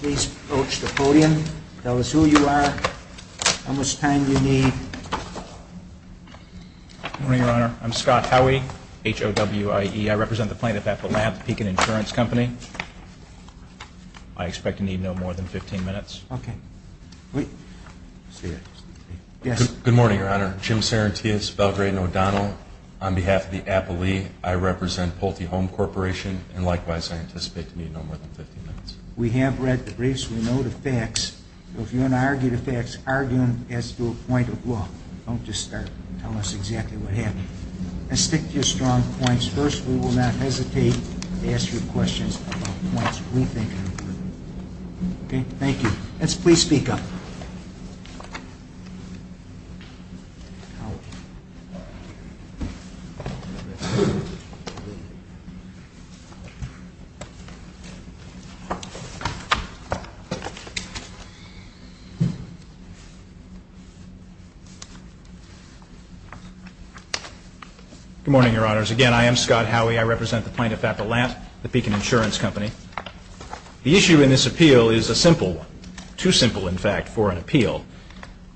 Please approach the podium. Tell us who you are, how much time you need. Good morning, Your Honor. I'm Scott Howey, H-O-W-I-E. I represent the plaintiff at the Lab, the Pekin Insurance Company. I expect to need no more than 15 minutes. Good morning, Your Honor. Jim Sarantias, Belgrade & O'Donnell. On behalf of the Applee, I represent Pulte Home Corporation. And likewise, I anticipate to need no more than 15 minutes. We have read the briefs. We know the facts. If you want to argue the facts, argue them as to a point of law. Don't just start telling us exactly what happened. And stick to your strong points. First, we will not hesitate to ask you questions about points we think are important. Okay? Thank you. Let's please speak up. Good morning, Your Honors. Again, I am Scott Howey. I represent the plaintiff at the Lab, the Pekin Insurance Company. The issue in this appeal is a simple one. Too simple, in fact, for an appeal.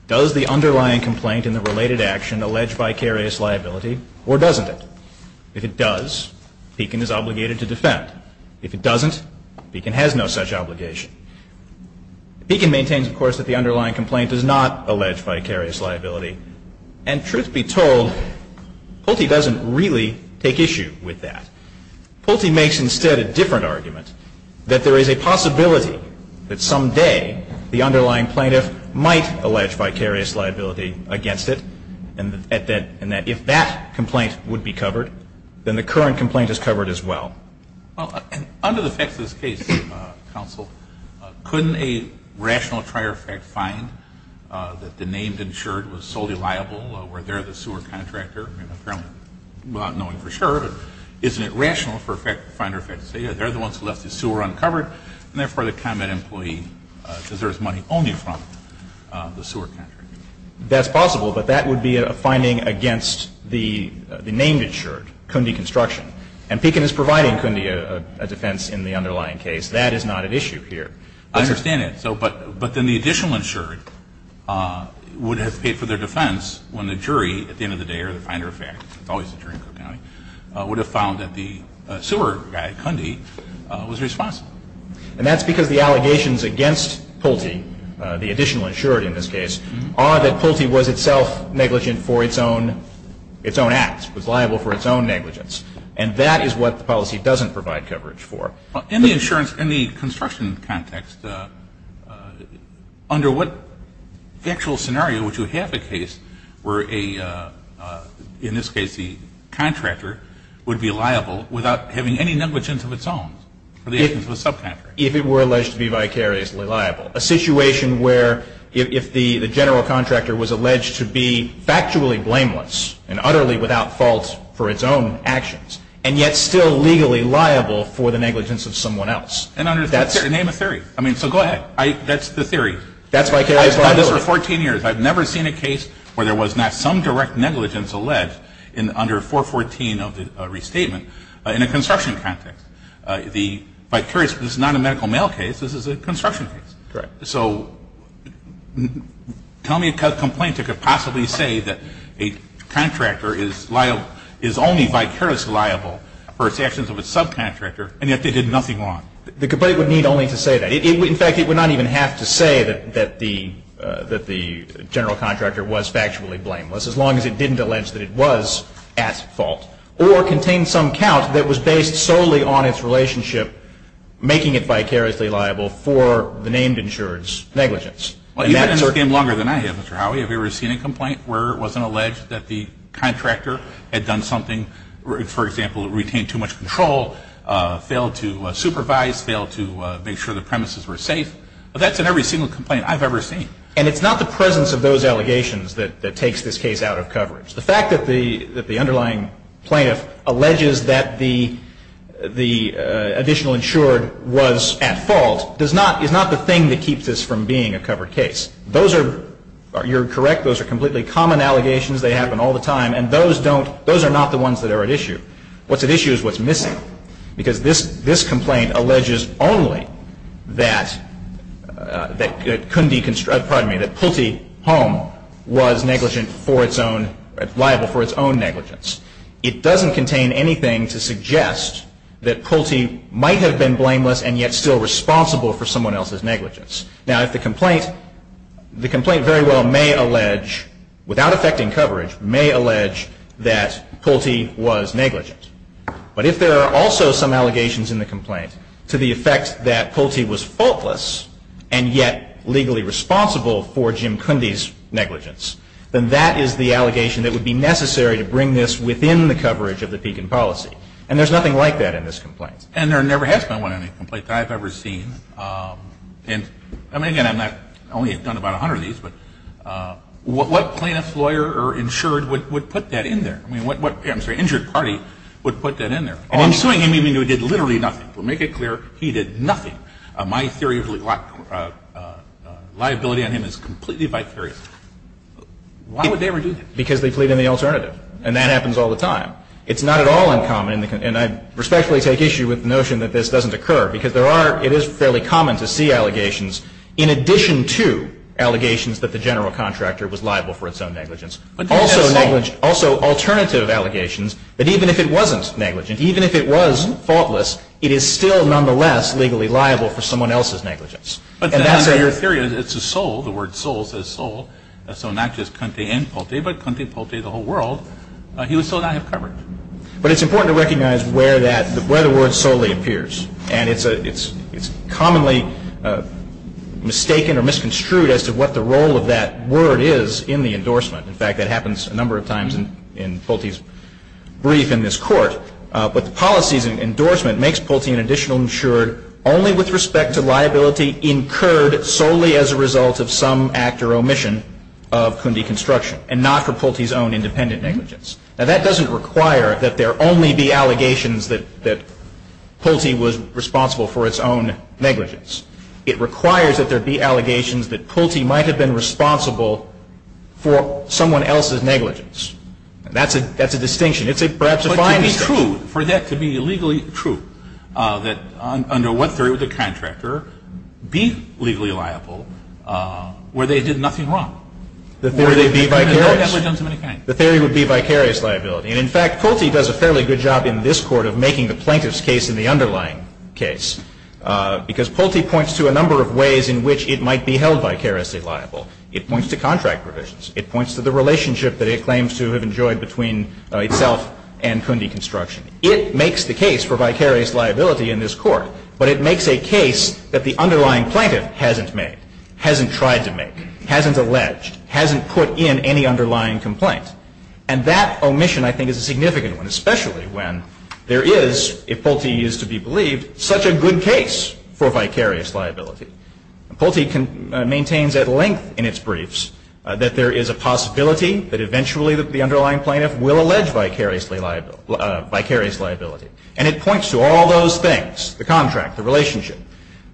Does the underlying complaint in the related action allege vicarious liability or doesn't it? If it does, Pekin is obligated to defend. If it doesn't, Pekin has no such obligation. Pekin maintains, of course, that the underlying complaint does not allege vicarious liability. And truth be told, Pulte doesn't really take issue with that. Pulte makes, instead, a different argument, that there is a possibility that someday the underlying plaintiff might allege vicarious liability against it and that if that complaint would be covered, then the current complaint is covered as well. Well, under the facts of this case, counsel, couldn't a rational trier fact find that the named insured was solely liable where they're the sewer contractor? I mean, apparently, without knowing for sure, isn't it rational for a fact finder to say, yeah, they're the ones who left the sewer uncovered, and therefore the combat employee deserves money only from the sewer contractor? That's possible, but that would be a finding against the named insured, Cundi Construction. And Pekin is providing Cundi a defense in the underlying case. That is not at issue here. I understand that. But then the additional insured would have paid for their defense when the jury, at the end of the day or the finder of fact, it's always the jury in Cook County, would have found that the sewer guy, Cundi, was responsible. And that's because the allegations against Pulte, the additional insured in this case, are that Pulte was itself negligent for its own act, was liable for its own negligence. And that is what the policy doesn't provide coverage for. In the construction context, under what actual scenario would you have a case where, in this case, the contractor would be liable without having any negligence of its own for the actions of a subcontractor? If it were alleged to be vicariously liable. A situation where if the general contractor was alleged to be factually blameless and utterly without fault for its own actions, and yet still legally liable for the negligence of someone else. Name a theory. So go ahead. That's the theory. I've done this for 14 years. I've never seen a case where there was not some direct negligence alleged under 414 of the restatement in a construction context. If I'm curious, this is not a medical mail case. This is a construction case. Correct. So tell me a complaint that could possibly say that a contractor is only vicariously liable for its actions of a subcontractor, and yet they did nothing wrong. The complaint would need only to say that. In fact, it would not even have to say that the general contractor was factually blameless, as long as it didn't allege that it was at fault, or contain some count that was based solely on its relationship, making it vicariously liable for the named insured's negligence. Well, you've been in this game longer than I have, Mr. Howey. Have you ever seen a complaint where it wasn't alleged that the contractor had done something, for example, retained too much control, failed to supervise, failed to make sure the premises were safe? That's in every single complaint I've ever seen. And it's not the presence of those allegations that takes this case out of coverage. The fact that the underlying plaintiff alleges that the additional insured was at fault does not, is not the thing that keeps this from being a covered case. Those are, you're correct, those are completely common allegations. They happen all the time. And those don't, those are not the ones that are at issue. What's at issue is what's missing. Because this, this complaint alleges only that, that it couldn't be, pardon me, that Pulte Home was negligent for its own, liable for its own negligence. It doesn't contain anything to suggest that Pulte might have been blameless and yet still responsible for someone else's negligence. Now, if the complaint, the complaint very well may allege, without affecting coverage, may allege that Pulte was negligent. But if there are also some allegations in the complaint to the effect that Pulte was faultless and yet legally responsible for Jim Kundy's negligence, then that is the allegation that would be necessary to bring this within the coverage of the Pekin policy. And there's nothing like that in this complaint. And there never has been one in any complaint that I've ever seen. And, I mean, again, I've not only done about 100 of these, but what plaintiff's lawyer or insured would put that in there? I mean, what, I'm sorry, insured party would put that in there? I'm suing him even though he did literally nothing. We'll make it clear, he did nothing. My theory of liability on him is completely vicarious. Why would they ever do that? Because they plead in the alternative. And that happens all the time. It's not at all uncommon, and I respectfully take issue with the notion that this doesn't occur, because there are, it is fairly common to see allegations in addition to allegations that the general contractor was liable for its own negligence. Also negligence, also alternative allegations that even if it wasn't negligent, even if it was faultless, it is still nonetheless legally liable for someone else's negligence. And that's a... But your theory is it's a sole, the word sole says sole. So not just Conte and Pote, but Conte, Pote, the whole world, he would still not have covered. But it's important to recognize where that, where the word solely appears. And it's commonly mistaken or misconstrued as to what the role of that word is in the endorsement. In fact, that happens a number of times in Pulte's brief in this court. But the policies in endorsement makes Pulte an additional insured only with respect to liability incurred solely as a result of some act or omission of Cundi construction and not for Pulte's own independent negligence. Now, that doesn't require that there only be allegations that Pulte was responsible for its own negligence. It requires that there be allegations that Pulte might have been responsible for someone else's negligence. And that's a distinction. It's perhaps a fine distinction. But to be true, for that to be legally true, that under what theory would the contractor be legally liable where they did nothing wrong? The theory would be vicarious. No negligence of any kind. The theory would be vicarious liability. And in fact, Pulte does a fairly good job in this court of making the plaintiff's case in the underlying case because Pulte points to a number of ways in which it might be held vicariously liable. It points to contract provisions. It points to the relationship that it claims to have enjoyed between itself and Cundi construction. It makes the case for vicarious liability in this court, but it makes a case that the underlying plaintiff hasn't made, hasn't tried to make, hasn't alleged, hasn't put in any underlying complaint. And that omission, I think, is a significant one, especially when there is, if Pulte is to be believed, such a good case for vicarious liability. Pulte maintains at length in its briefs that there is a possibility that eventually the underlying plaintiff will allege vicarious liability. And it points to all those things, the contract, the relationship.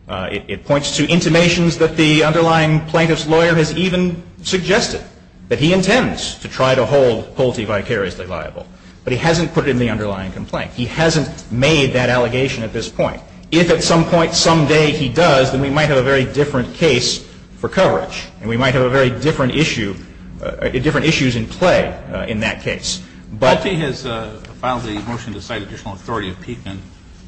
It points to intimations that the underlying plaintiff's lawyer has even suggested that he intends to try to hold Pulte vicariously liable, but he hasn't put it in the underlying complaint. He hasn't made that allegation at this point. If at some point someday he does, then we might have a very different case for coverage and we might have a very different issue, different issues in play in that case. But he has filed a motion to cite additional authority of Pekin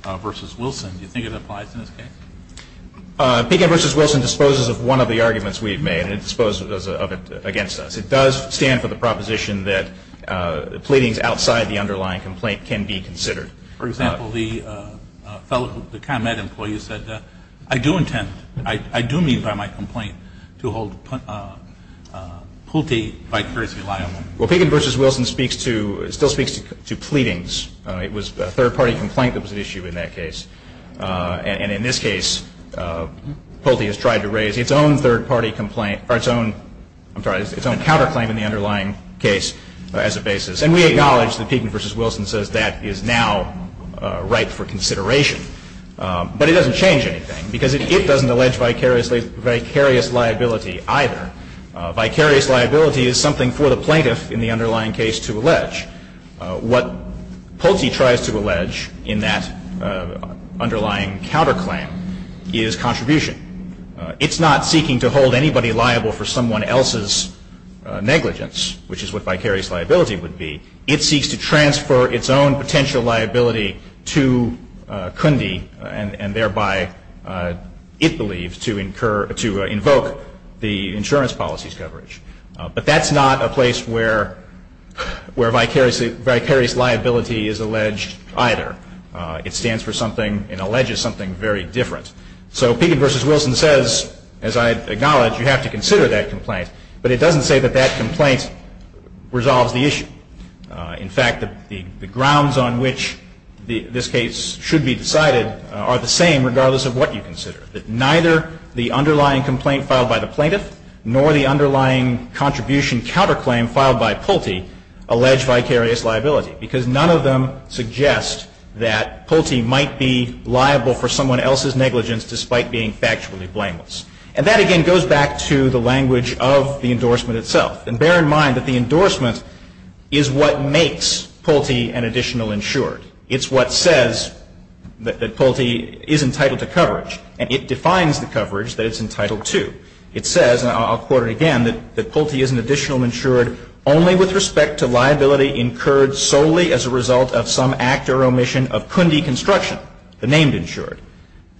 v. Wilson. Do you think it applies in this case? Pekin v. Wilson disposes of one of the arguments we have made and disposes of it against it does stand for the proposition that pleadings outside the underlying complaint can be considered. For example, the fellow, the ComEd employee said, I do intend, I do mean by my complaint to hold Pulte vicariously liable. Well, Pekin v. Wilson speaks to, still speaks to pleadings. It was a third-party complaint that was at issue in that case. And in this case, Pulte has tried to raise its own third-party complaint, or its own, I'm sorry, its own counterclaim in the underlying case as a basis. And we acknowledge that Pekin v. Wilson says that is now right for consideration. But it doesn't change anything because it doesn't allege vicarious liability either. Vicarious liability is something for the plaintiff in the underlying case to allege. What Pulte tries to allege in that underlying counterclaim is contribution. It's not seeking to hold anybody liable for someone else's negligence, which is what vicarious liability would be. It seeks to transfer its own potential liability to Cundi and thereby, it believes, to incur, to invoke the insurance policy's coverage. But that's not a place where vicarious liability is alleged either. It stands for something and alleges something very different. So Pekin v. Wilson says, as I acknowledge, you have to consider that complaint. But it doesn't say that that complaint resolves the issue. In fact, the grounds on which this case should be decided are the same regardless of what you consider, that neither the underlying complaint filed by the plaintiff nor the underlying contribution counterclaim filed by Pulte allege vicarious liability because none of them suggest that Pulte might be liable for someone else's negligence despite being factually blameless. And that, again, goes back to the language of the endorsement itself. And bear in mind that the endorsement is what makes Pulte an additional insured. It's what says that Pulte is entitled to coverage. And it defines the coverage that it's entitled to. It says, and I'll quote it again, that Pulte is an additional insured only with respect to liability incurred solely as a result of some act or omission of Cundi construction, the named insured,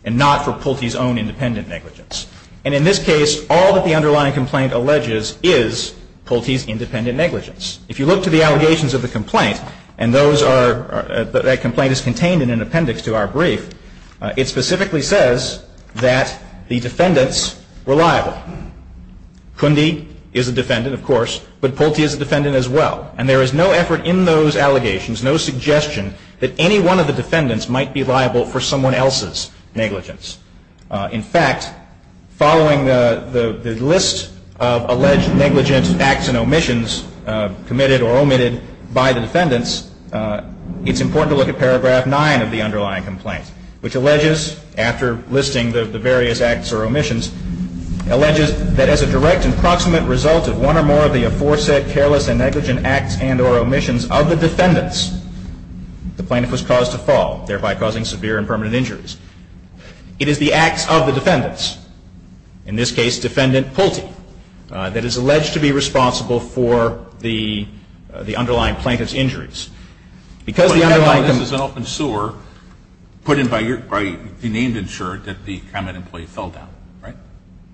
and not for Pulte's own independent negligence. And in this case, all that the underlying complaint alleges is Pulte's independent negligence. If you look to the allegations of the complaint, and that complaint is contained in an appendix to our brief, it specifically says that the defendants were liable. Cundi is a defendant, of course, but Pulte is a defendant as well. And there is no effort in those allegations, no suggestion, that any one of the defendants might be liable for someone else's negligence. In fact, following the list of alleged negligent acts and omissions committed or omitted by the defendants, it's important to look at paragraph 9 of the underlying complaint, which alleges, after listing the various acts or omissions, alleges that as a direct and proximate result of one or more of the aforesaid careless and negligent acts and or omissions of the defendants, the plaintiff was caused to fall, thereby causing severe and permanent injuries. It is the acts of the defendants, in this case, defendant Pulte, that is alleged to be responsible for the underlying plaintiff's injuries. Because the underlying complaint But this is an open sewer put in by your, by the named insured that the combat employee fell down, right?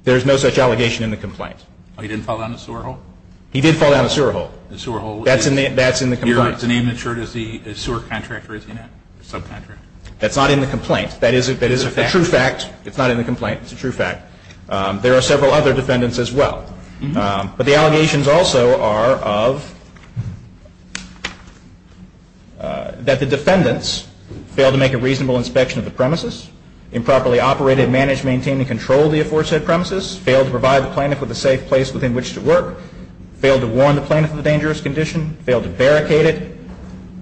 There is no such allegation in the complaint. Oh, he didn't fall down a sewer hole? He did fall down a sewer hole. A sewer hole? That's in the complaint. Is the named insured a sewer contractor, is he not? A subcontractor? That's not in the complaint. That is a fact. That is a true fact. It's not in the complaint. It's a true fact. There are several other defendants as well. But the allegations also are of that the defendants failed to make a reasonable inspection of the premises, improperly operated, managed, maintained, and controlled the aforesaid premises, failed to provide the plaintiff with a safe place within which to work, failed to warn the plaintiff of the dangerous condition, failed to barricade it,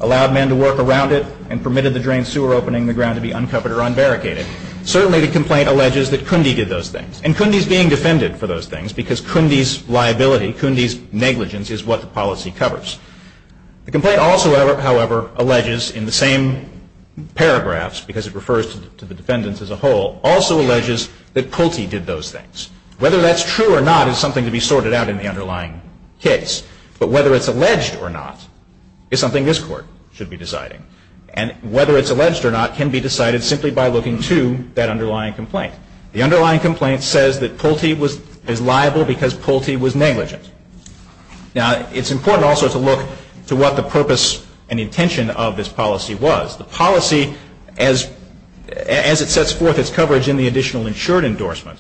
allowed men to work around it, and permitted the drained sewer opening the ground to be uncovered or unbarricaded. Certainly the complaint alleges that Kunde did those things. And Kunde is being defended for those things because Kunde's liability, Kunde's negligence is what the policy covers. The complaint also, however, alleges in the same paragraphs, because it refers to the defendants as a whole, also alleges that Kulte did those things. Whether that's true or not is something to be sorted out in the underlying case. But whether it's alleged or not is something this Court should be deciding. And whether it's alleged or not can be decided simply by looking to that underlying complaint. The underlying complaint says that Kulte is liable because Kulte was negligent. Now, it's important also to look to what the purpose and intention of this policy was. The policy, as it sets forth its coverage in the additional insured endorsement,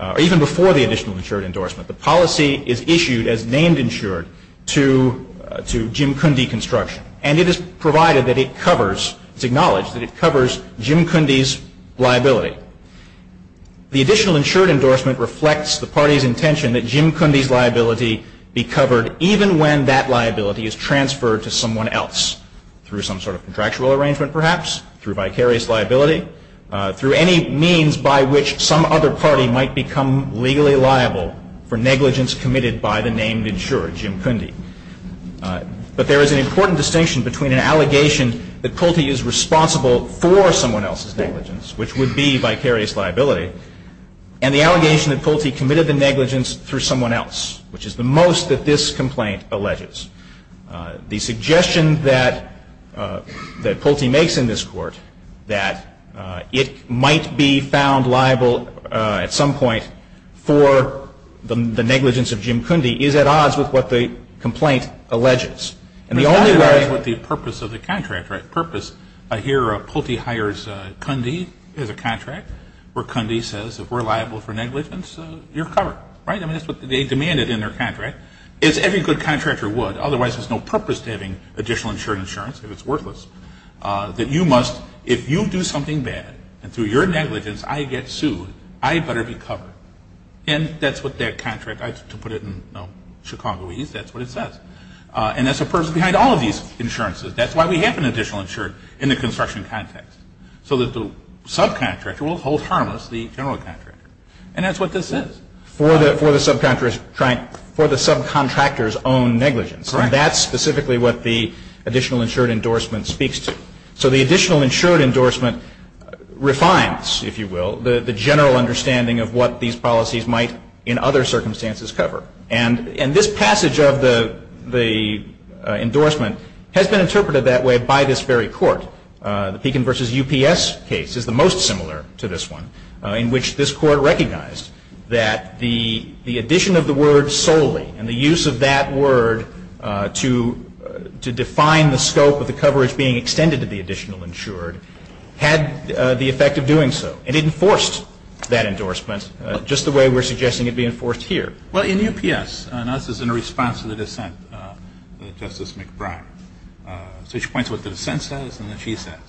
or even before the additional insured endorsement, the policy is issued as named insured to Jim Kunde Construction. And it is provided that it covers, it's acknowledged that it covers Jim Kunde's liability. The additional insured endorsement reflects the party's intention that Jim Kunde's liability be covered even when that liability is transferred to someone else, through some sort of contractual arrangement, perhaps, through vicarious liability, through any means by which some other party might become legally liable for negligence committed by the named insured, Jim Kunde. But there is an important distinction between an allegation that Kulte is responsible for someone else's negligence, which would be vicarious liability, and the allegation that Kulte committed the negligence through someone else, which is the most that this complaint alleges. The suggestion that Kulte makes in this Court that it might be found liable at some point for the negligence of Jim Kunde is at odds with what the complaint alleges. And the only way the purpose of the contract, right, purpose, I hear Kulte hires Kunde as a contract, where Kunde says if we're liable for negligence, you're covered, right? I mean, that's what they demanded in their contract. As every good contractor would, otherwise there's no purpose to having additional insured insurance if it's worthless. That you must, if you do something bad, and through your negligence I get sued, I better be covered. And that's what that contract, to put it in Chicagoese, that's what it says. And that's the purpose behind all of these insurances. That's why we have an additional insured in the construction context, so that the subcontractor will hold harmless the general contractor. And that's what this says. For the subcontractor's own negligence. And that's specifically what the additional insured endorsement speaks to. So the additional insured endorsement refines, if you will, the general understanding of what these policies might, in other circumstances, cover. And this passage of the endorsement has been interpreted that way by this very court. The Pekin v. UPS case is the most similar to this one, in which this court recognized that the addition of the word solely, and the use of that word to define the scope of the coverage being extended to the additional insured, had the effect of doing so. And it enforced that endorsement, just the way we're suggesting it be enforced here. Well, in UPS, and this is in response to the dissent of Justice McBride, so she points to what the dissent says and what she says.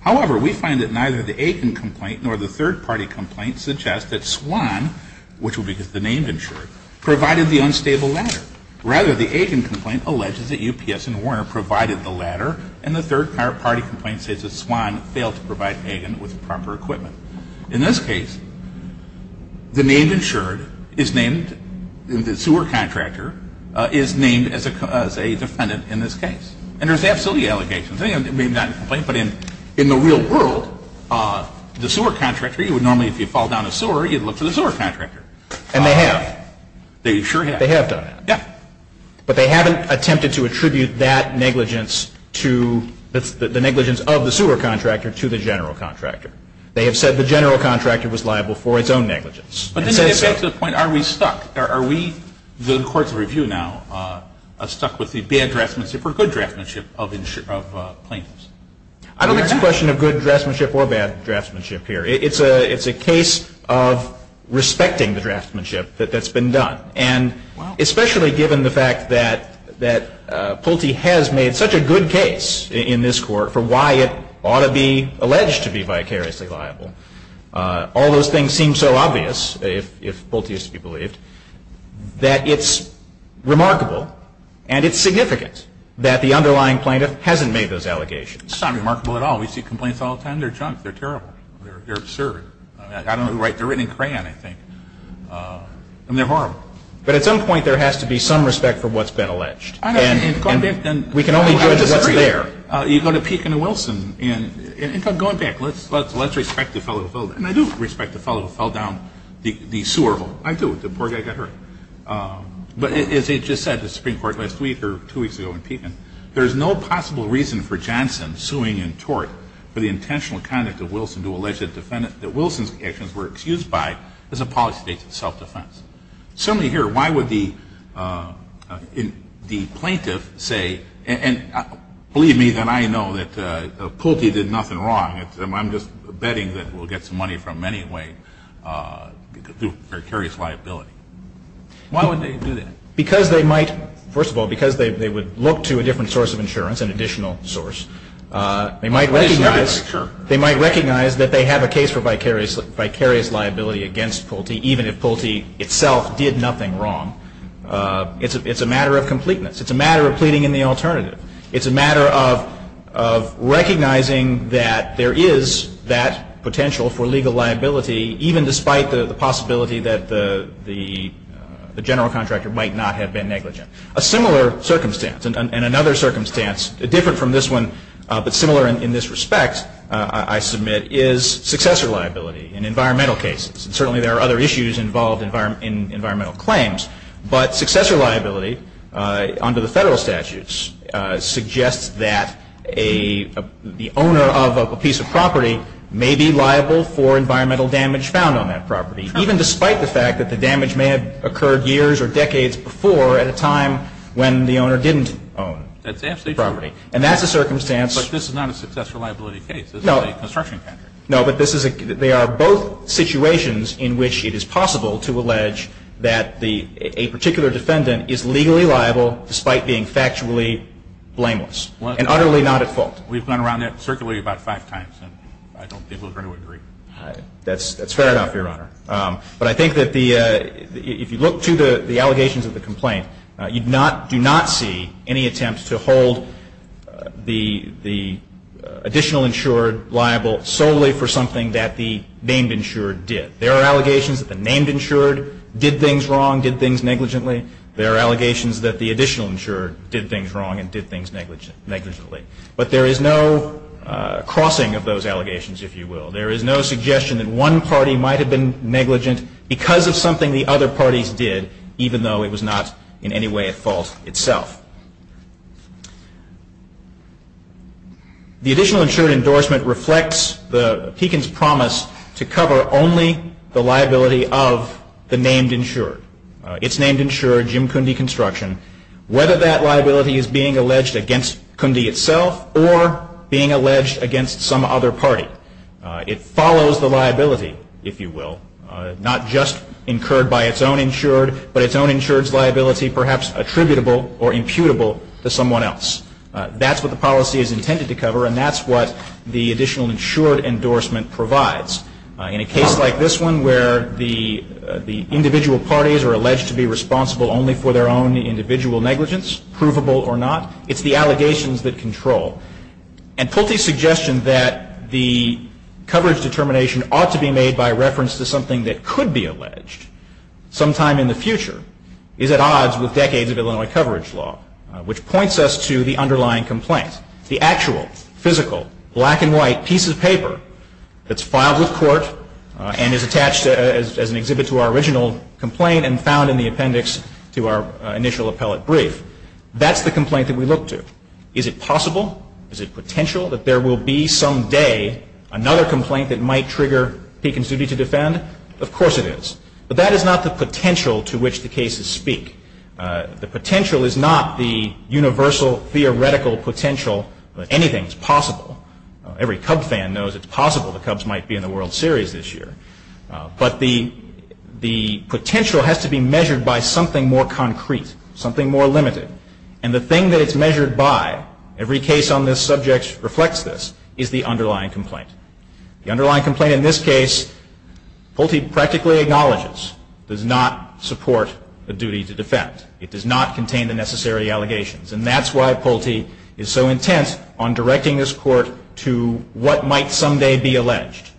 However, we find that neither the Aiken complaint nor the third-party complaint suggest that SWAN, which will be the name insured, provided the unstable ladder. Rather, the Aiken complaint alleges that UPS and Warner provided the ladder, and the third-party complaint says that SWAN failed to provide Aiken with proper equipment. In this case, the name insured is named, the sewer contractor is named as a defendant in this case. And there's absolutely allegations. I mean, not in the complaint, but in the real world, the sewer contractor, you would normally, if you fall down a sewer, you'd look for the sewer contractor. And they have. They sure have. In fact, they have done that. Yeah. But they haven't attempted to attribute that negligence to, the negligence of the sewer contractor to the general contractor. They have said the general contractor was liable for its own negligence. But then you get to the point, are we stuck? Are we, the courts of review now, stuck with the bad draftsmanship or good draftsmanship of plaintiffs? I don't think it's a question of good draftsmanship or bad draftsmanship here. It's a case of respecting the draftsmanship that's been done. And especially given the fact that Pulte has made such a good case in this court for why it ought to be alleged to be vicariously liable, all those things seem so obvious, if Pulte is to be believed, that it's remarkable and it's significant that the underlying plaintiff hasn't made those allegations. It's not remarkable at all. We see complaints all the time. They're junk. They're terrible. They're absurd. I don't know who wrote them. They're written in crayon, I think. And they're horrible. But at some point, there has to be some respect for what's been alleged. And we can only judge what's there. You go to Pekin and Wilson. In fact, going back, let's respect the fellow who fell down. And I do respect the fellow who fell down the sewer hole. I do. The poor guy got hurt. But as I just said to the Supreme Court last week or two weeks ago in Pekin, there's no possible reason for Johnson suing in tort for the intentional alleged defendant that Wilson's actions were excused by as a policy state of self-defense. Certainly here, why would the plaintiff say, and believe me, then I know that Pulte did nothing wrong. I'm just betting that we'll get some money from him anyway through precarious liability. Why would they do that? Because they might, first of all, because they would look to a different source of insurance, an additional source. They might recognize that they have a case for vicarious liability against Pulte, even if Pulte itself did nothing wrong. It's a matter of completeness. It's a matter of pleading in the alternative. It's a matter of recognizing that there is that potential for legal liability, even despite the possibility that the general contractor might not have been negligent. A similar circumstance, and another circumstance different from this one, but similar in this respect, I submit, is successor liability in environmental cases. Certainly there are other issues involved in environmental claims, but successor liability under the federal statutes suggests that the owner of a piece of property may be liable for environmental damage found on that property, even despite the fact that the damage may have occurred years or decades before at a time when the owner didn't own the property. That's absolutely true. And that's a circumstance. But this is not a successor liability case. This is a construction contract. No, but they are both situations in which it is possible to allege that a particular defendant is legally liable despite being factually blameless and utterly not at fault. We've gone around that circularly about five times, and I don't think we'll agree. That's fair enough, Your Honor. But I think that if you look to the allegations of the complaint, you do not see any attempt to hold the additional insured liable solely for something that the named insured did. There are allegations that the named insured did things wrong, did things negligently. There are allegations that the additional insured did things wrong and did things negligently. But there is no crossing of those allegations, if you will. There is no suggestion that one party might have been negligent because of something the other parties did, even though it was not in any way at fault itself. The additional insured endorsement reflects the Pekin's promise to cover only the liability of the named insured, its named insurer, Jim Kunde Construction, whether that liability is being alleged against Kunde itself or being alleged against some other party. It follows the liability, if you will, not just incurred by its own insured, but its own insured's liability perhaps attributable or imputable to someone else. That's what the policy is intended to cover, and that's what the additional insured endorsement provides. In a case like this one where the individual parties are alleged to be responsible only for their own individual negligence, provable or not, it's the allegations that control. And Pulte's suggestion that the coverage determination ought to be made by reference to something that could be alleged sometime in the future is at odds with decades of Illinois coverage law, which points us to the underlying complaint, the actual, physical, black and white piece of paper that's filed with court and is attached as an exhibit to our original complaint and found in the appendix to our initial appellate brief. That's the complaint that we look to. Is it possible? Is it potential that there will be some day another complaint that might trigger Pekin's duty to defend? Of course it is. But that is not the potential to which the cases speak. The potential is not the universal theoretical potential that anything is possible. Every Cub fan knows it's possible the Cubs might be in the World Series this year. But the potential has to be measured by something more concrete, something more limited. And the thing that it's measured by, every case on this subject reflects this, is the underlying complaint. The underlying complaint in this case, Pulte practically acknowledges, does not support the duty to defend. It does not contain the necessary allegations. And that's why Pulte is so intent on directing this court to what might someday be alleged.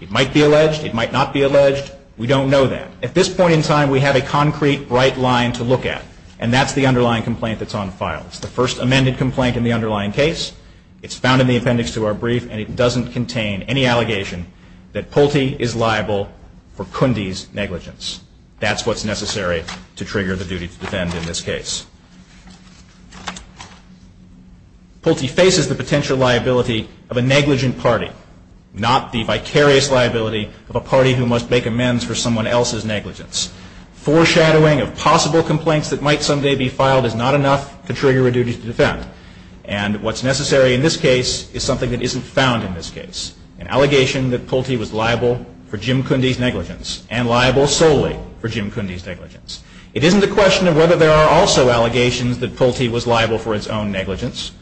It might be alleged. It might not be alleged. We don't know that. At this point in time, we have a concrete, bright line to look at. And that's the underlying complaint that's on file. It's the first amended complaint in the underlying case. It's found in the appendix to our brief. And it doesn't contain any allegation that Pulte is liable for Cundi's negligence. That's what's necessary to trigger the duty to defend in this case. Pulte faces the potential liability of a negligent party, not the vicarious liability of a party who must make amends for someone else's negligence. Foreshadowing of possible complaints that might someday be filed is not enough to trigger a duty to defend. And what's necessary in this case is something that isn't found in this case, an allegation that Pulte was liable for Jim Cundi's negligence and liable solely for Jim Cundi's negligence. It isn't a question of whether there are also allegations that Pulte was liable for its own negligence.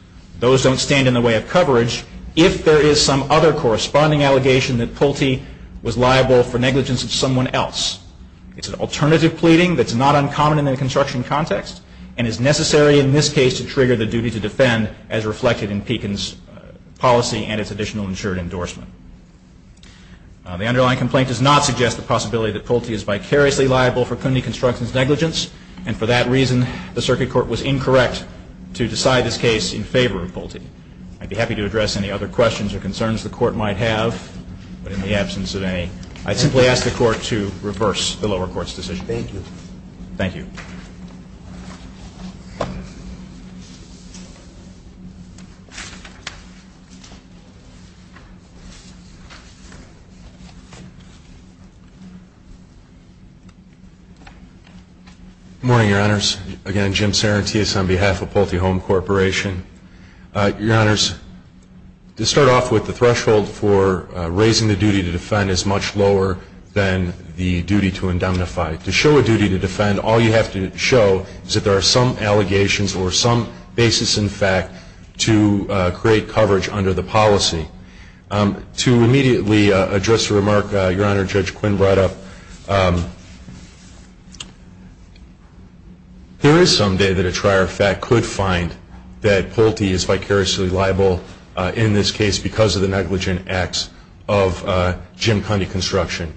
Those don't stand in the way of coverage. If there is some other corresponding allegation that Pulte was liable for negligence of someone else, it's an alternative pleading that's not uncommon in the construction context and is necessary in this case to trigger the duty to defend as reflected in Pekin's policy and its additional insured endorsement. The underlying complaint does not suggest the possibility that Pulte is vicariously liable for Cundi Construction's negligence. And for that reason, the Circuit Court was incorrect to decide this case in favor of Pulte. I'd be happy to address any other questions or concerns the Court might have. But in the absence of any, I simply ask the Court to reverse the lower court's decision. Thank you. Thank you. Good morning, Your Honors. Again, Jim Sarantias on behalf of Pulte Home Corporation. Your Honors, to start off with, the threshold for raising the duty to defend is much lower than the duty to indemnify. To show a duty to defend, all you have to show is that there are some allegations or some basis in fact to create coverage under the policy. To immediately address a remark Your Honor, Judge Quinn brought up, there is some day that a trier of fact could find that Pulte is vicariously liable in this case because of the negligent acts of Jim Cundi Construction.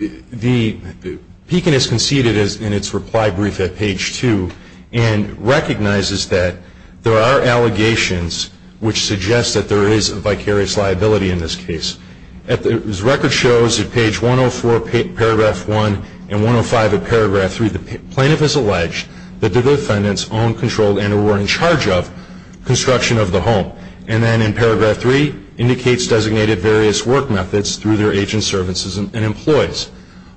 Pekin has conceded in its reply brief at page 2 and recognizes that there are allegations which suggest that there is a vicarious liability in this case. As record shows at page 104, paragraph 1, and 105 of paragraph 3, the plaintiff has alleged that the defendants owned, controlled, and or were in charge of construction of the home. And then in paragraph 3, indicates designated various work methods through their agent services and employees.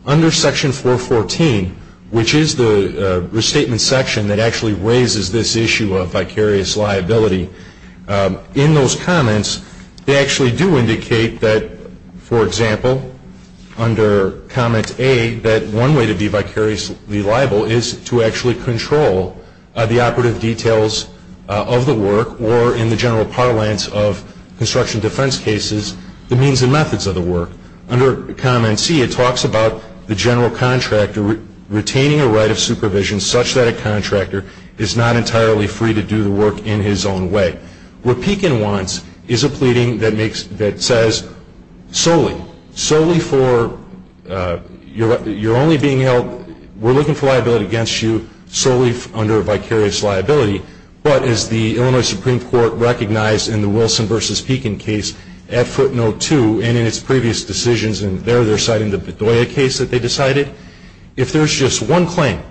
Under section 414, which is the restatement section that actually raises this issue of vicarious liability, in those comments, they actually do indicate that, for example, under comment A, that one way to be vicariously liable is to actually control the operative details of the work or in the general parlance of construction defense cases, the means and methods of the work. Under comment C, it talks about the general contractor retaining a right of supervision such that a contractor is not entirely free to do the work in his own way. What Pekin wants is a pleading that says solely, solely for, you're only being held, we're looking for liability against you solely under vicarious liability. But as the Illinois Supreme Court recognized in the Wilson v. Pekin case at footnote 2 and in its previous decisions, and there they're citing the Bedoya case that they decided, if there's just one claim,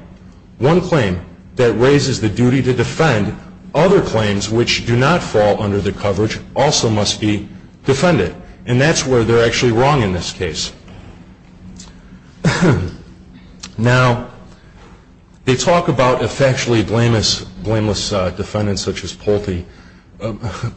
one claim that raises the duty to defend, other claims which do not fall under the coverage also must be defended. And that's where they're actually wrong in this case. Now, they talk about a factually blameless defendant such as Polte,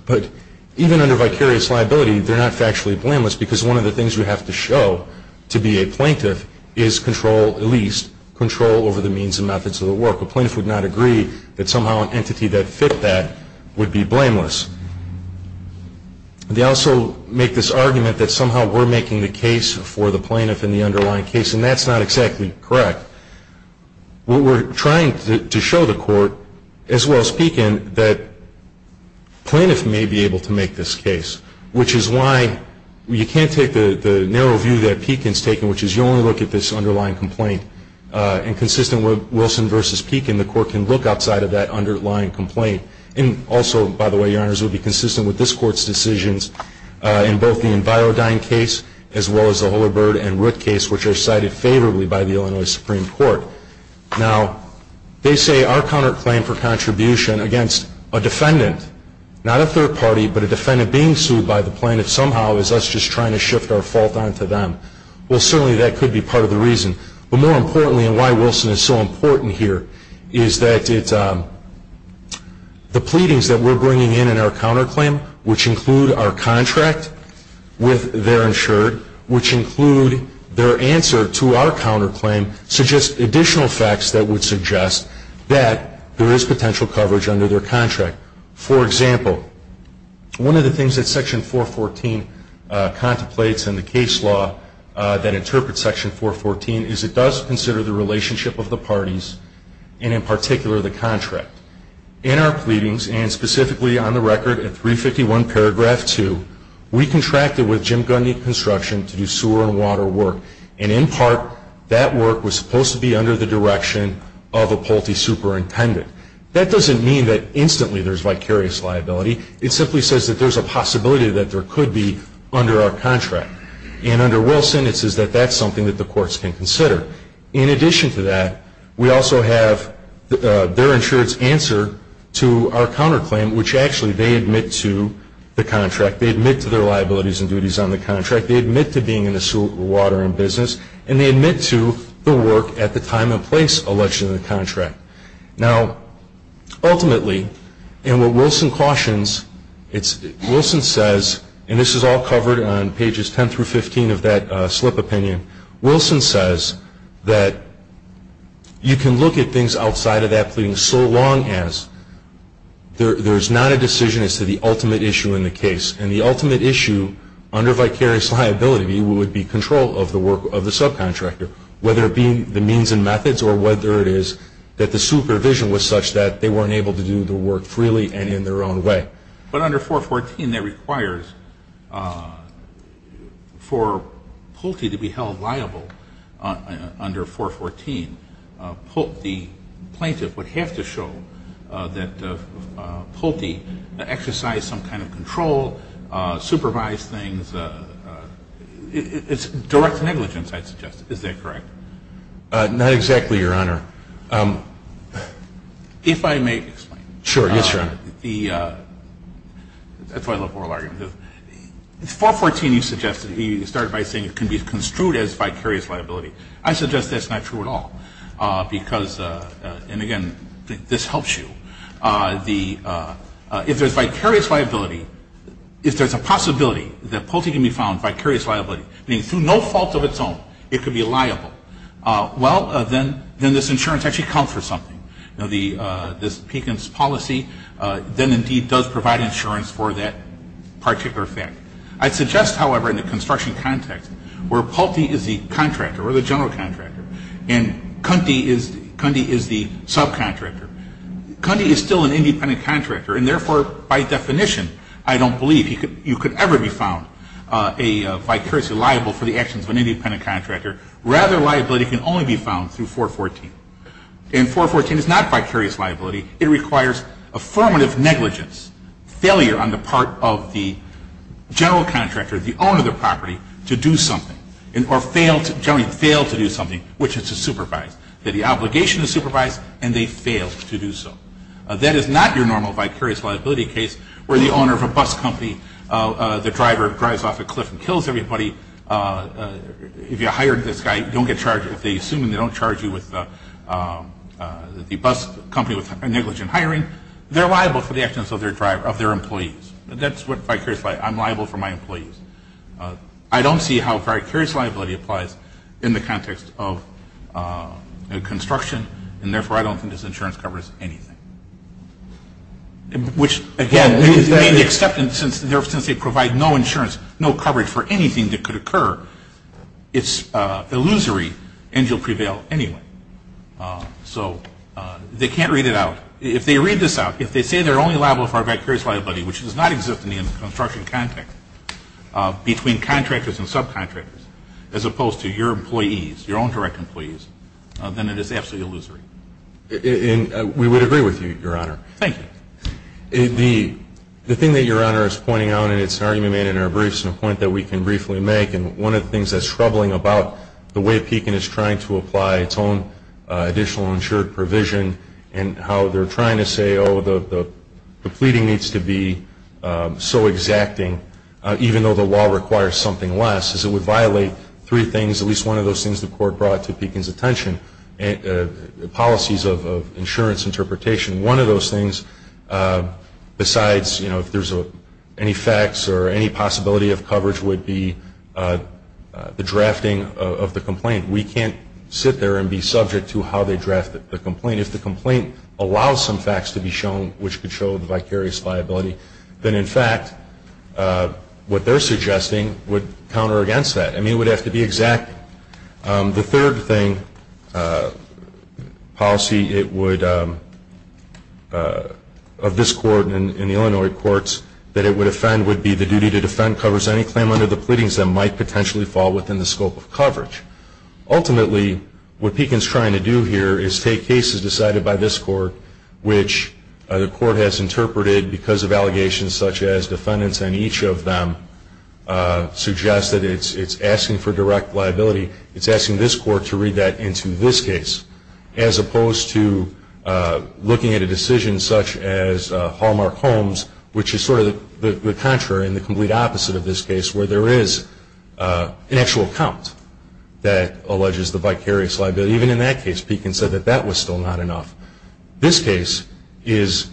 but even under vicarious liability, they're not factually blameless because one of the things we have to show to be a plaintiff is control, at least, control over the means and methods of the work. A plaintiff would not agree that somehow an entity that fit that would be blameless. They also make this argument that somehow we're making the case for the plaintiff in the underlying case, and that's not exactly correct. What we're trying to show the court, as well as Pekin, that plaintiffs may be able to make this case, which is why you can't take the narrow view that Pekin's taken, which is you only look at this underlying complaint. And consistent with Wilson v. Pekin, the court can look outside of that underlying complaint. And also, by the way, Your Honors, it would be consistent with this Court's decisions in both the Envirodyne case, as well as the Holabird and Root case, which are cited favorably by the Illinois Supreme Court. Now, they say our counterclaim for contribution against a defendant, not a third party, but a defendant being sued by the plaintiff somehow is us just trying to shift our fault onto them. Well, certainly that could be part of the reason. But more importantly, and why Wilson is so important here, is that the pleadings that we're bringing in in our counterclaim, which include our contract with their insured, which include their answer to our counterclaim, suggest additional facts that would suggest that there is potential coverage under their contract. For example, one of the things that Section 414 contemplates in the case law that interprets Section 414 is it does consider the relationship of the parties, and in particular, the contract. In our pleadings, and specifically on the record at 351 paragraph 2, we contracted with Jim Gundy Construction to do sewer and water work. And in part, that work was supposed to be under the direction of a Pulte superintendent. That doesn't mean that instantly there's vicarious liability. It simply says that there's a possibility that there could be under our contract. And under Wilson, it says that that's something that the courts can consider. In addition to that, we also have their insurance answer to our counterclaim, which actually they admit to the contract. They admit to their liabilities and duties on the contract. They admit to being in the sewer, water, and business. And they admit to the work at the time and place alleged in the contract. Now, ultimately, and what Wilson cautions, Wilson says, and this is all covered on pages 10 through 15 of that slip opinion, Wilson says that you can look at things outside of that pleading so long as there's not a decision as to the ultimate issue in the case. And the ultimate issue under vicarious liability would be control of the subcontractor, whether it be the means and methods or whether it is that the supervision was such that they weren't able to do the work freely and in their own way. But under 414, that requires for Pulte to be held liable under 414. The plaintiff would have to show that Pulte exercised some kind of control, supervised things. It's direct negligence, I'd suggest. Is that correct? Not exactly, Your Honor. If I may explain. Sure, yes, Your Honor. That's why I love oral arguments. 414 you suggested, you started by saying it can be construed as vicarious liability. I suggest that's not true at all because, and again, this helps you, if there's vicarious liability, if there's a possibility that Pulte can be found vicarious liability, meaning through no fault of its own, it could be liable, well, then this insurance actually counts for something. This Pekin's policy then indeed does provide insurance for that particular fact. I suggest, however, in the construction context where Pulte is the contractor or the general contractor and Cundy is the subcontractor, Cundy is still an independent contractor and, therefore, by definition, I don't believe you could ever be found vicariously liable for the actions of an independent contractor. Rather, liability can only be found through 414. And 414 is not vicarious liability. It requires affirmative negligence, failure on the part of the general contractor, the owner of the property, to do something or generally fail to do something, which is to supervise, that the obligation is supervised and they fail to do so. That is not your normal vicarious liability case where the owner of a bus company, the driver drives off a cliff and kills everybody. If you hire this guy, don't get charged. If they assume they don't charge you with the bus company with negligent hiring, they're liable for the actions of their employees. That's what vicarious liability is. I'm liable for my employees. I don't see how vicarious liability applies in the context of construction, and therefore I don't think this insurance covers anything. Which, again, since they provide no insurance, no coverage for anything that could occur, it's illusory and you'll prevail anyway. So they can't read it out. If they read this out, if they say they're only liable for vicarious liability, which does not exist in the construction context between contractors and subcontractors, as opposed to your employees, your own direct employees, then it is absolutely illusory. And we would agree with you, Your Honor. Thank you. The thing that Your Honor is pointing out, and it's an argument made in our briefs, and a point that we can briefly make, and one of the things that's troubling about the way Pekin is trying to apply its own additional insured provision and how they're trying to say, oh, the pleading needs to be so exacting, even though the law requires something less, is it would violate three things, at least one of those things the Court brought to Pekin's attention, policies of insurance interpretation. One of those things, besides, you know, if there's any facts or any possibility of coverage would be the drafting of the complaint. We can't sit there and be subject to how they draft the complaint. If the complaint allows some facts to be shown which could show the vicarious liability, then, in fact, what they're suggesting would counter against that. I mean, it would have to be exact. The third thing, policy, it would, of this Court and the Illinois courts, that it would offend would be the duty to defend covers any claim under the pleadings that might potentially fall within the scope of coverage. Ultimately, what Pekin's trying to do here is take cases decided by this Court, which the Court has interpreted because of allegations such as defendants and each of them suggests that it's asking for direct liability. It's asking this Court to read that into this case, as opposed to looking at a decision such as Hallmark Holmes, which is sort of the contrary and the complete opposite of this case, where there is an actual count that alleges the vicarious liability. But even in that case, Pekin said that that was still not enough. This case is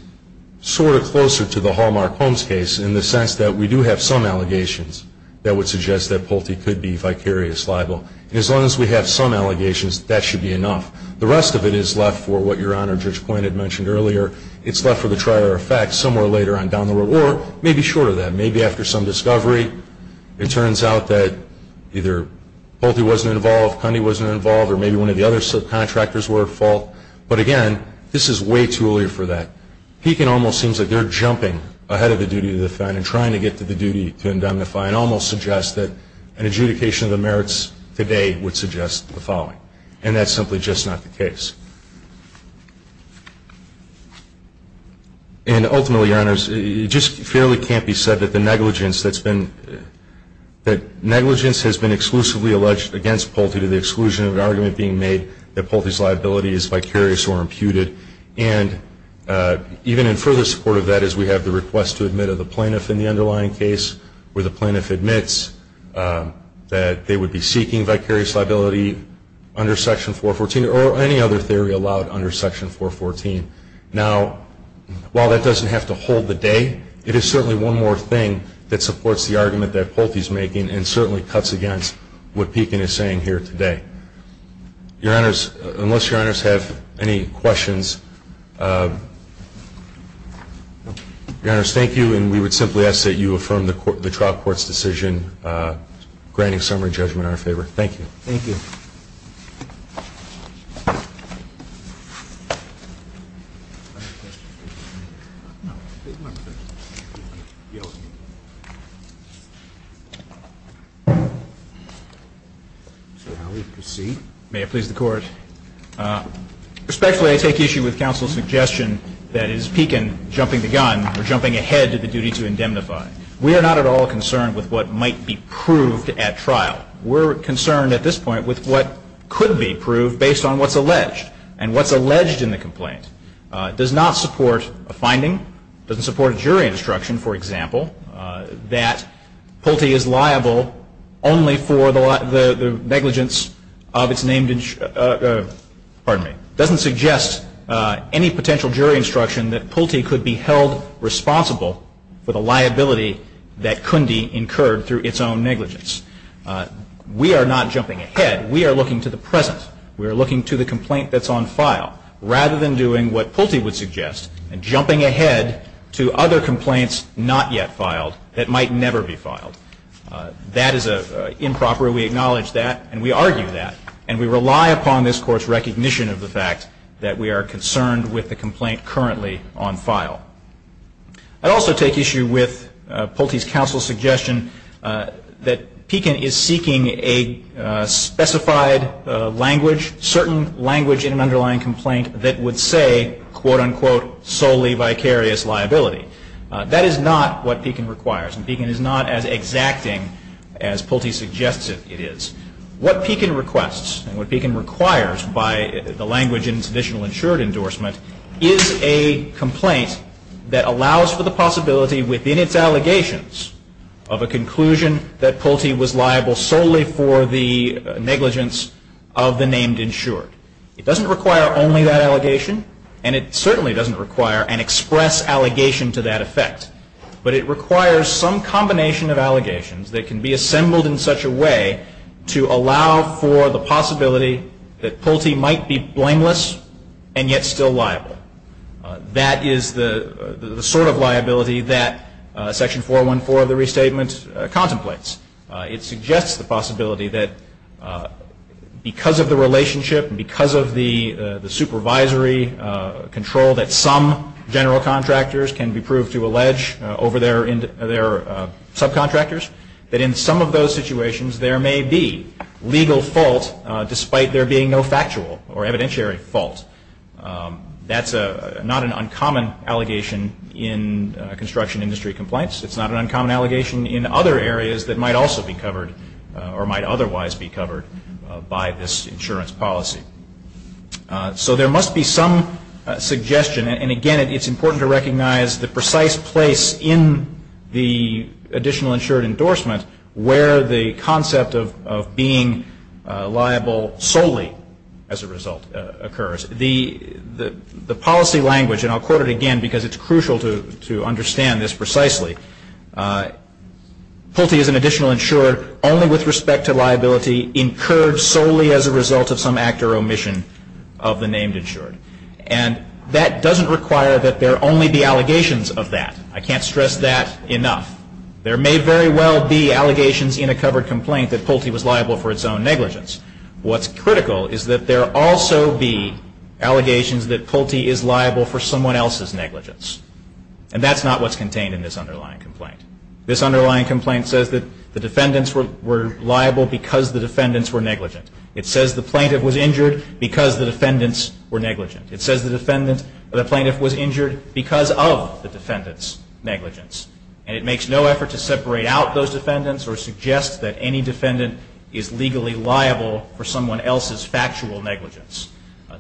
sort of closer to the Hallmark Holmes case in the sense that we do have some allegations that would suggest that Pulte could be vicarious liable. As long as we have some allegations, that should be enough. The rest of it is left for what Your Honor, Judge Quinn had mentioned earlier. It's left for the trier of facts somewhere later on down the road, or maybe short of that. Maybe after some discovery, it turns out that either Pulte wasn't involved, Cundy wasn't involved, or maybe one of the other subcontractors were at fault. But again, this is way too early for that. Pekin almost seems like they're jumping ahead of the duty to defend and trying to get to the duty to indemnify and almost suggest that an adjudication of the merits today would suggest the following. And that's simply just not the case. And ultimately, Your Honors, it just fairly can't be said that the negligence that's been exclusively alleged against Pulte to the exclusion of an argument being made that Pulte's liability is vicarious or imputed. And even in further support of that is we have the request to admit of the plaintiff in the underlying case where the plaintiff admits that they would be seeking vicarious liability under Section 414 or any other theory allowed under Section 414. Now, while that doesn't have to hold the day, it is certainly one more thing that supports the argument that Pulte is making and certainly cuts against what Pekin is saying here today. Your Honors, unless Your Honors have any questions, Your Honors, thank you. And we would simply ask that you affirm the trial court's decision granting summary judgment in our favor. Thank you. Thank you. May it please the Court. Respectfully, I take issue with counsel's suggestion that is Pekin jumping the gun or jumping ahead to the duty to indemnify. We are not at all concerned with what might be proved at trial. We're concerned at this point with what could be proved based on what's alleged and what's alleged in the complaint. It does not support a finding. It doesn't support a jury instruction, for example, that Pulte is liable only for the negligence of its named pardon me, doesn't suggest any potential jury instruction that Pulte could be held responsible for the liability that could be incurred through its own negligence. We are not jumping ahead. We are looking to the present. We are looking to the complaint that's on file rather than doing what Pulte would suggest and jumping ahead to other complaints not yet filed that might never be filed. That is improper. We acknowledge that, and we argue that, and we rely upon this Court's recognition of the fact that we are concerned with the complaint currently on file. I'd also take issue with Pulte's counsel's suggestion that Pekin is seeking a specified language, certain language in an underlying complaint that would say, quote, unquote, solely vicarious liability. That is not what Pekin requires, and Pekin is not as exacting as Pulte suggests it is. What Pekin requests and what Pekin requires by the language in traditional insured endorsement is a complaint that allows for the possibility within its allegations of a conclusion that Pulte was liable solely for the negligence of the named insured. It doesn't require only that allegation, and it certainly doesn't require an express allegation to that effect, but it requires some combination of allegations that can be assembled in such a way to allow for the possibility that Pulte might be blameless and yet still liable. That is the sort of liability that Section 414 of the Restatement contemplates. It suggests the possibility that because of the relationship and because of the supervisory control that some general contractors can be proved to allege over their subcontractors, that in some of those situations there may be legal fault despite there being no factual or evidentiary fault. That's not an uncommon allegation in construction industry complaints. It's not an uncommon allegation in other areas that might also be covered or might otherwise be covered by this insurance policy. So there must be some suggestion, and again, it's important to recognize the precise place in the additional insured endorsement where the concept of being liable solely as a result occurs. The policy language, and I'll quote it again because it's crucial to understand this precisely, Pulte is an additional insured only with respect to liability incurred solely as a result of some act or omission of the named insured. And that doesn't require that there only be allegations of that. I can't stress that enough. There may very well be allegations in a covered complaint that Pulte was liable for its own negligence. What's critical is that there also be allegations that Pulte is liable for someone else's negligence. And that's not what's contained in this underlying complaint. This underlying complaint says that the defendants were liable because the defendants were negligent. It says the plaintiff was injured because the defendants were negligent. It says the defendant or the plaintiff was injured because of the defendant's negligence. And it makes no effort to separate out those defendants or suggest that any defendant is legally liable for someone else's factual negligence.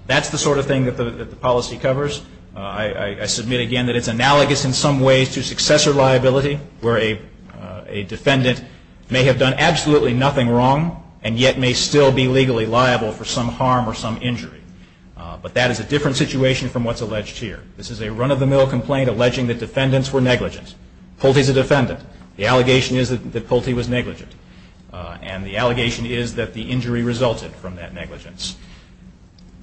That's the sort of thing that the policy covers. I submit again that it's analogous in some ways to successor liability where a defendant may have done absolutely nothing wrong and yet may still be legally liable for some harm or some injury. But that is a different situation from what's alleged here. This is a run-of-the-mill complaint alleging that defendants were negligent. Pulte's a defendant. The allegation is that Pulte was negligent. And the allegation is that the injury resulted from that negligence.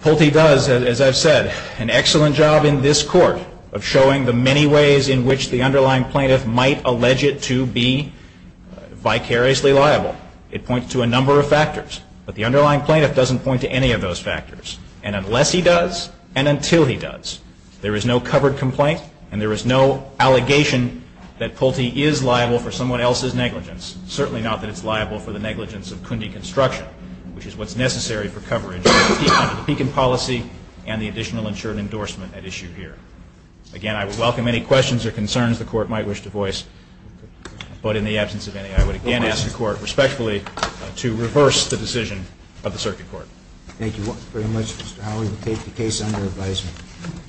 Pulte does, as I've said, an excellent job in this court of showing the many ways in which the underlying plaintiff might allege it to be vicariously liable. It points to a number of factors. But the underlying plaintiff doesn't point to any of those factors. And unless he does, and until he does, there is no covered complaint and there is no allegation that Pulte is liable for someone else's negligence. Certainly not that it's liable for the negligence of Cundi Construction, which is what's necessary for coverage of the Pekin policy and the additional insured endorsement at issue here. Again, I would welcome any questions or concerns the Court might wish to voice. But in the absence of any, I would again ask the Court, respectfully, to reverse the decision of the Circuit Court. Thank you very much, Mr. Howell. We will take the case under advisement.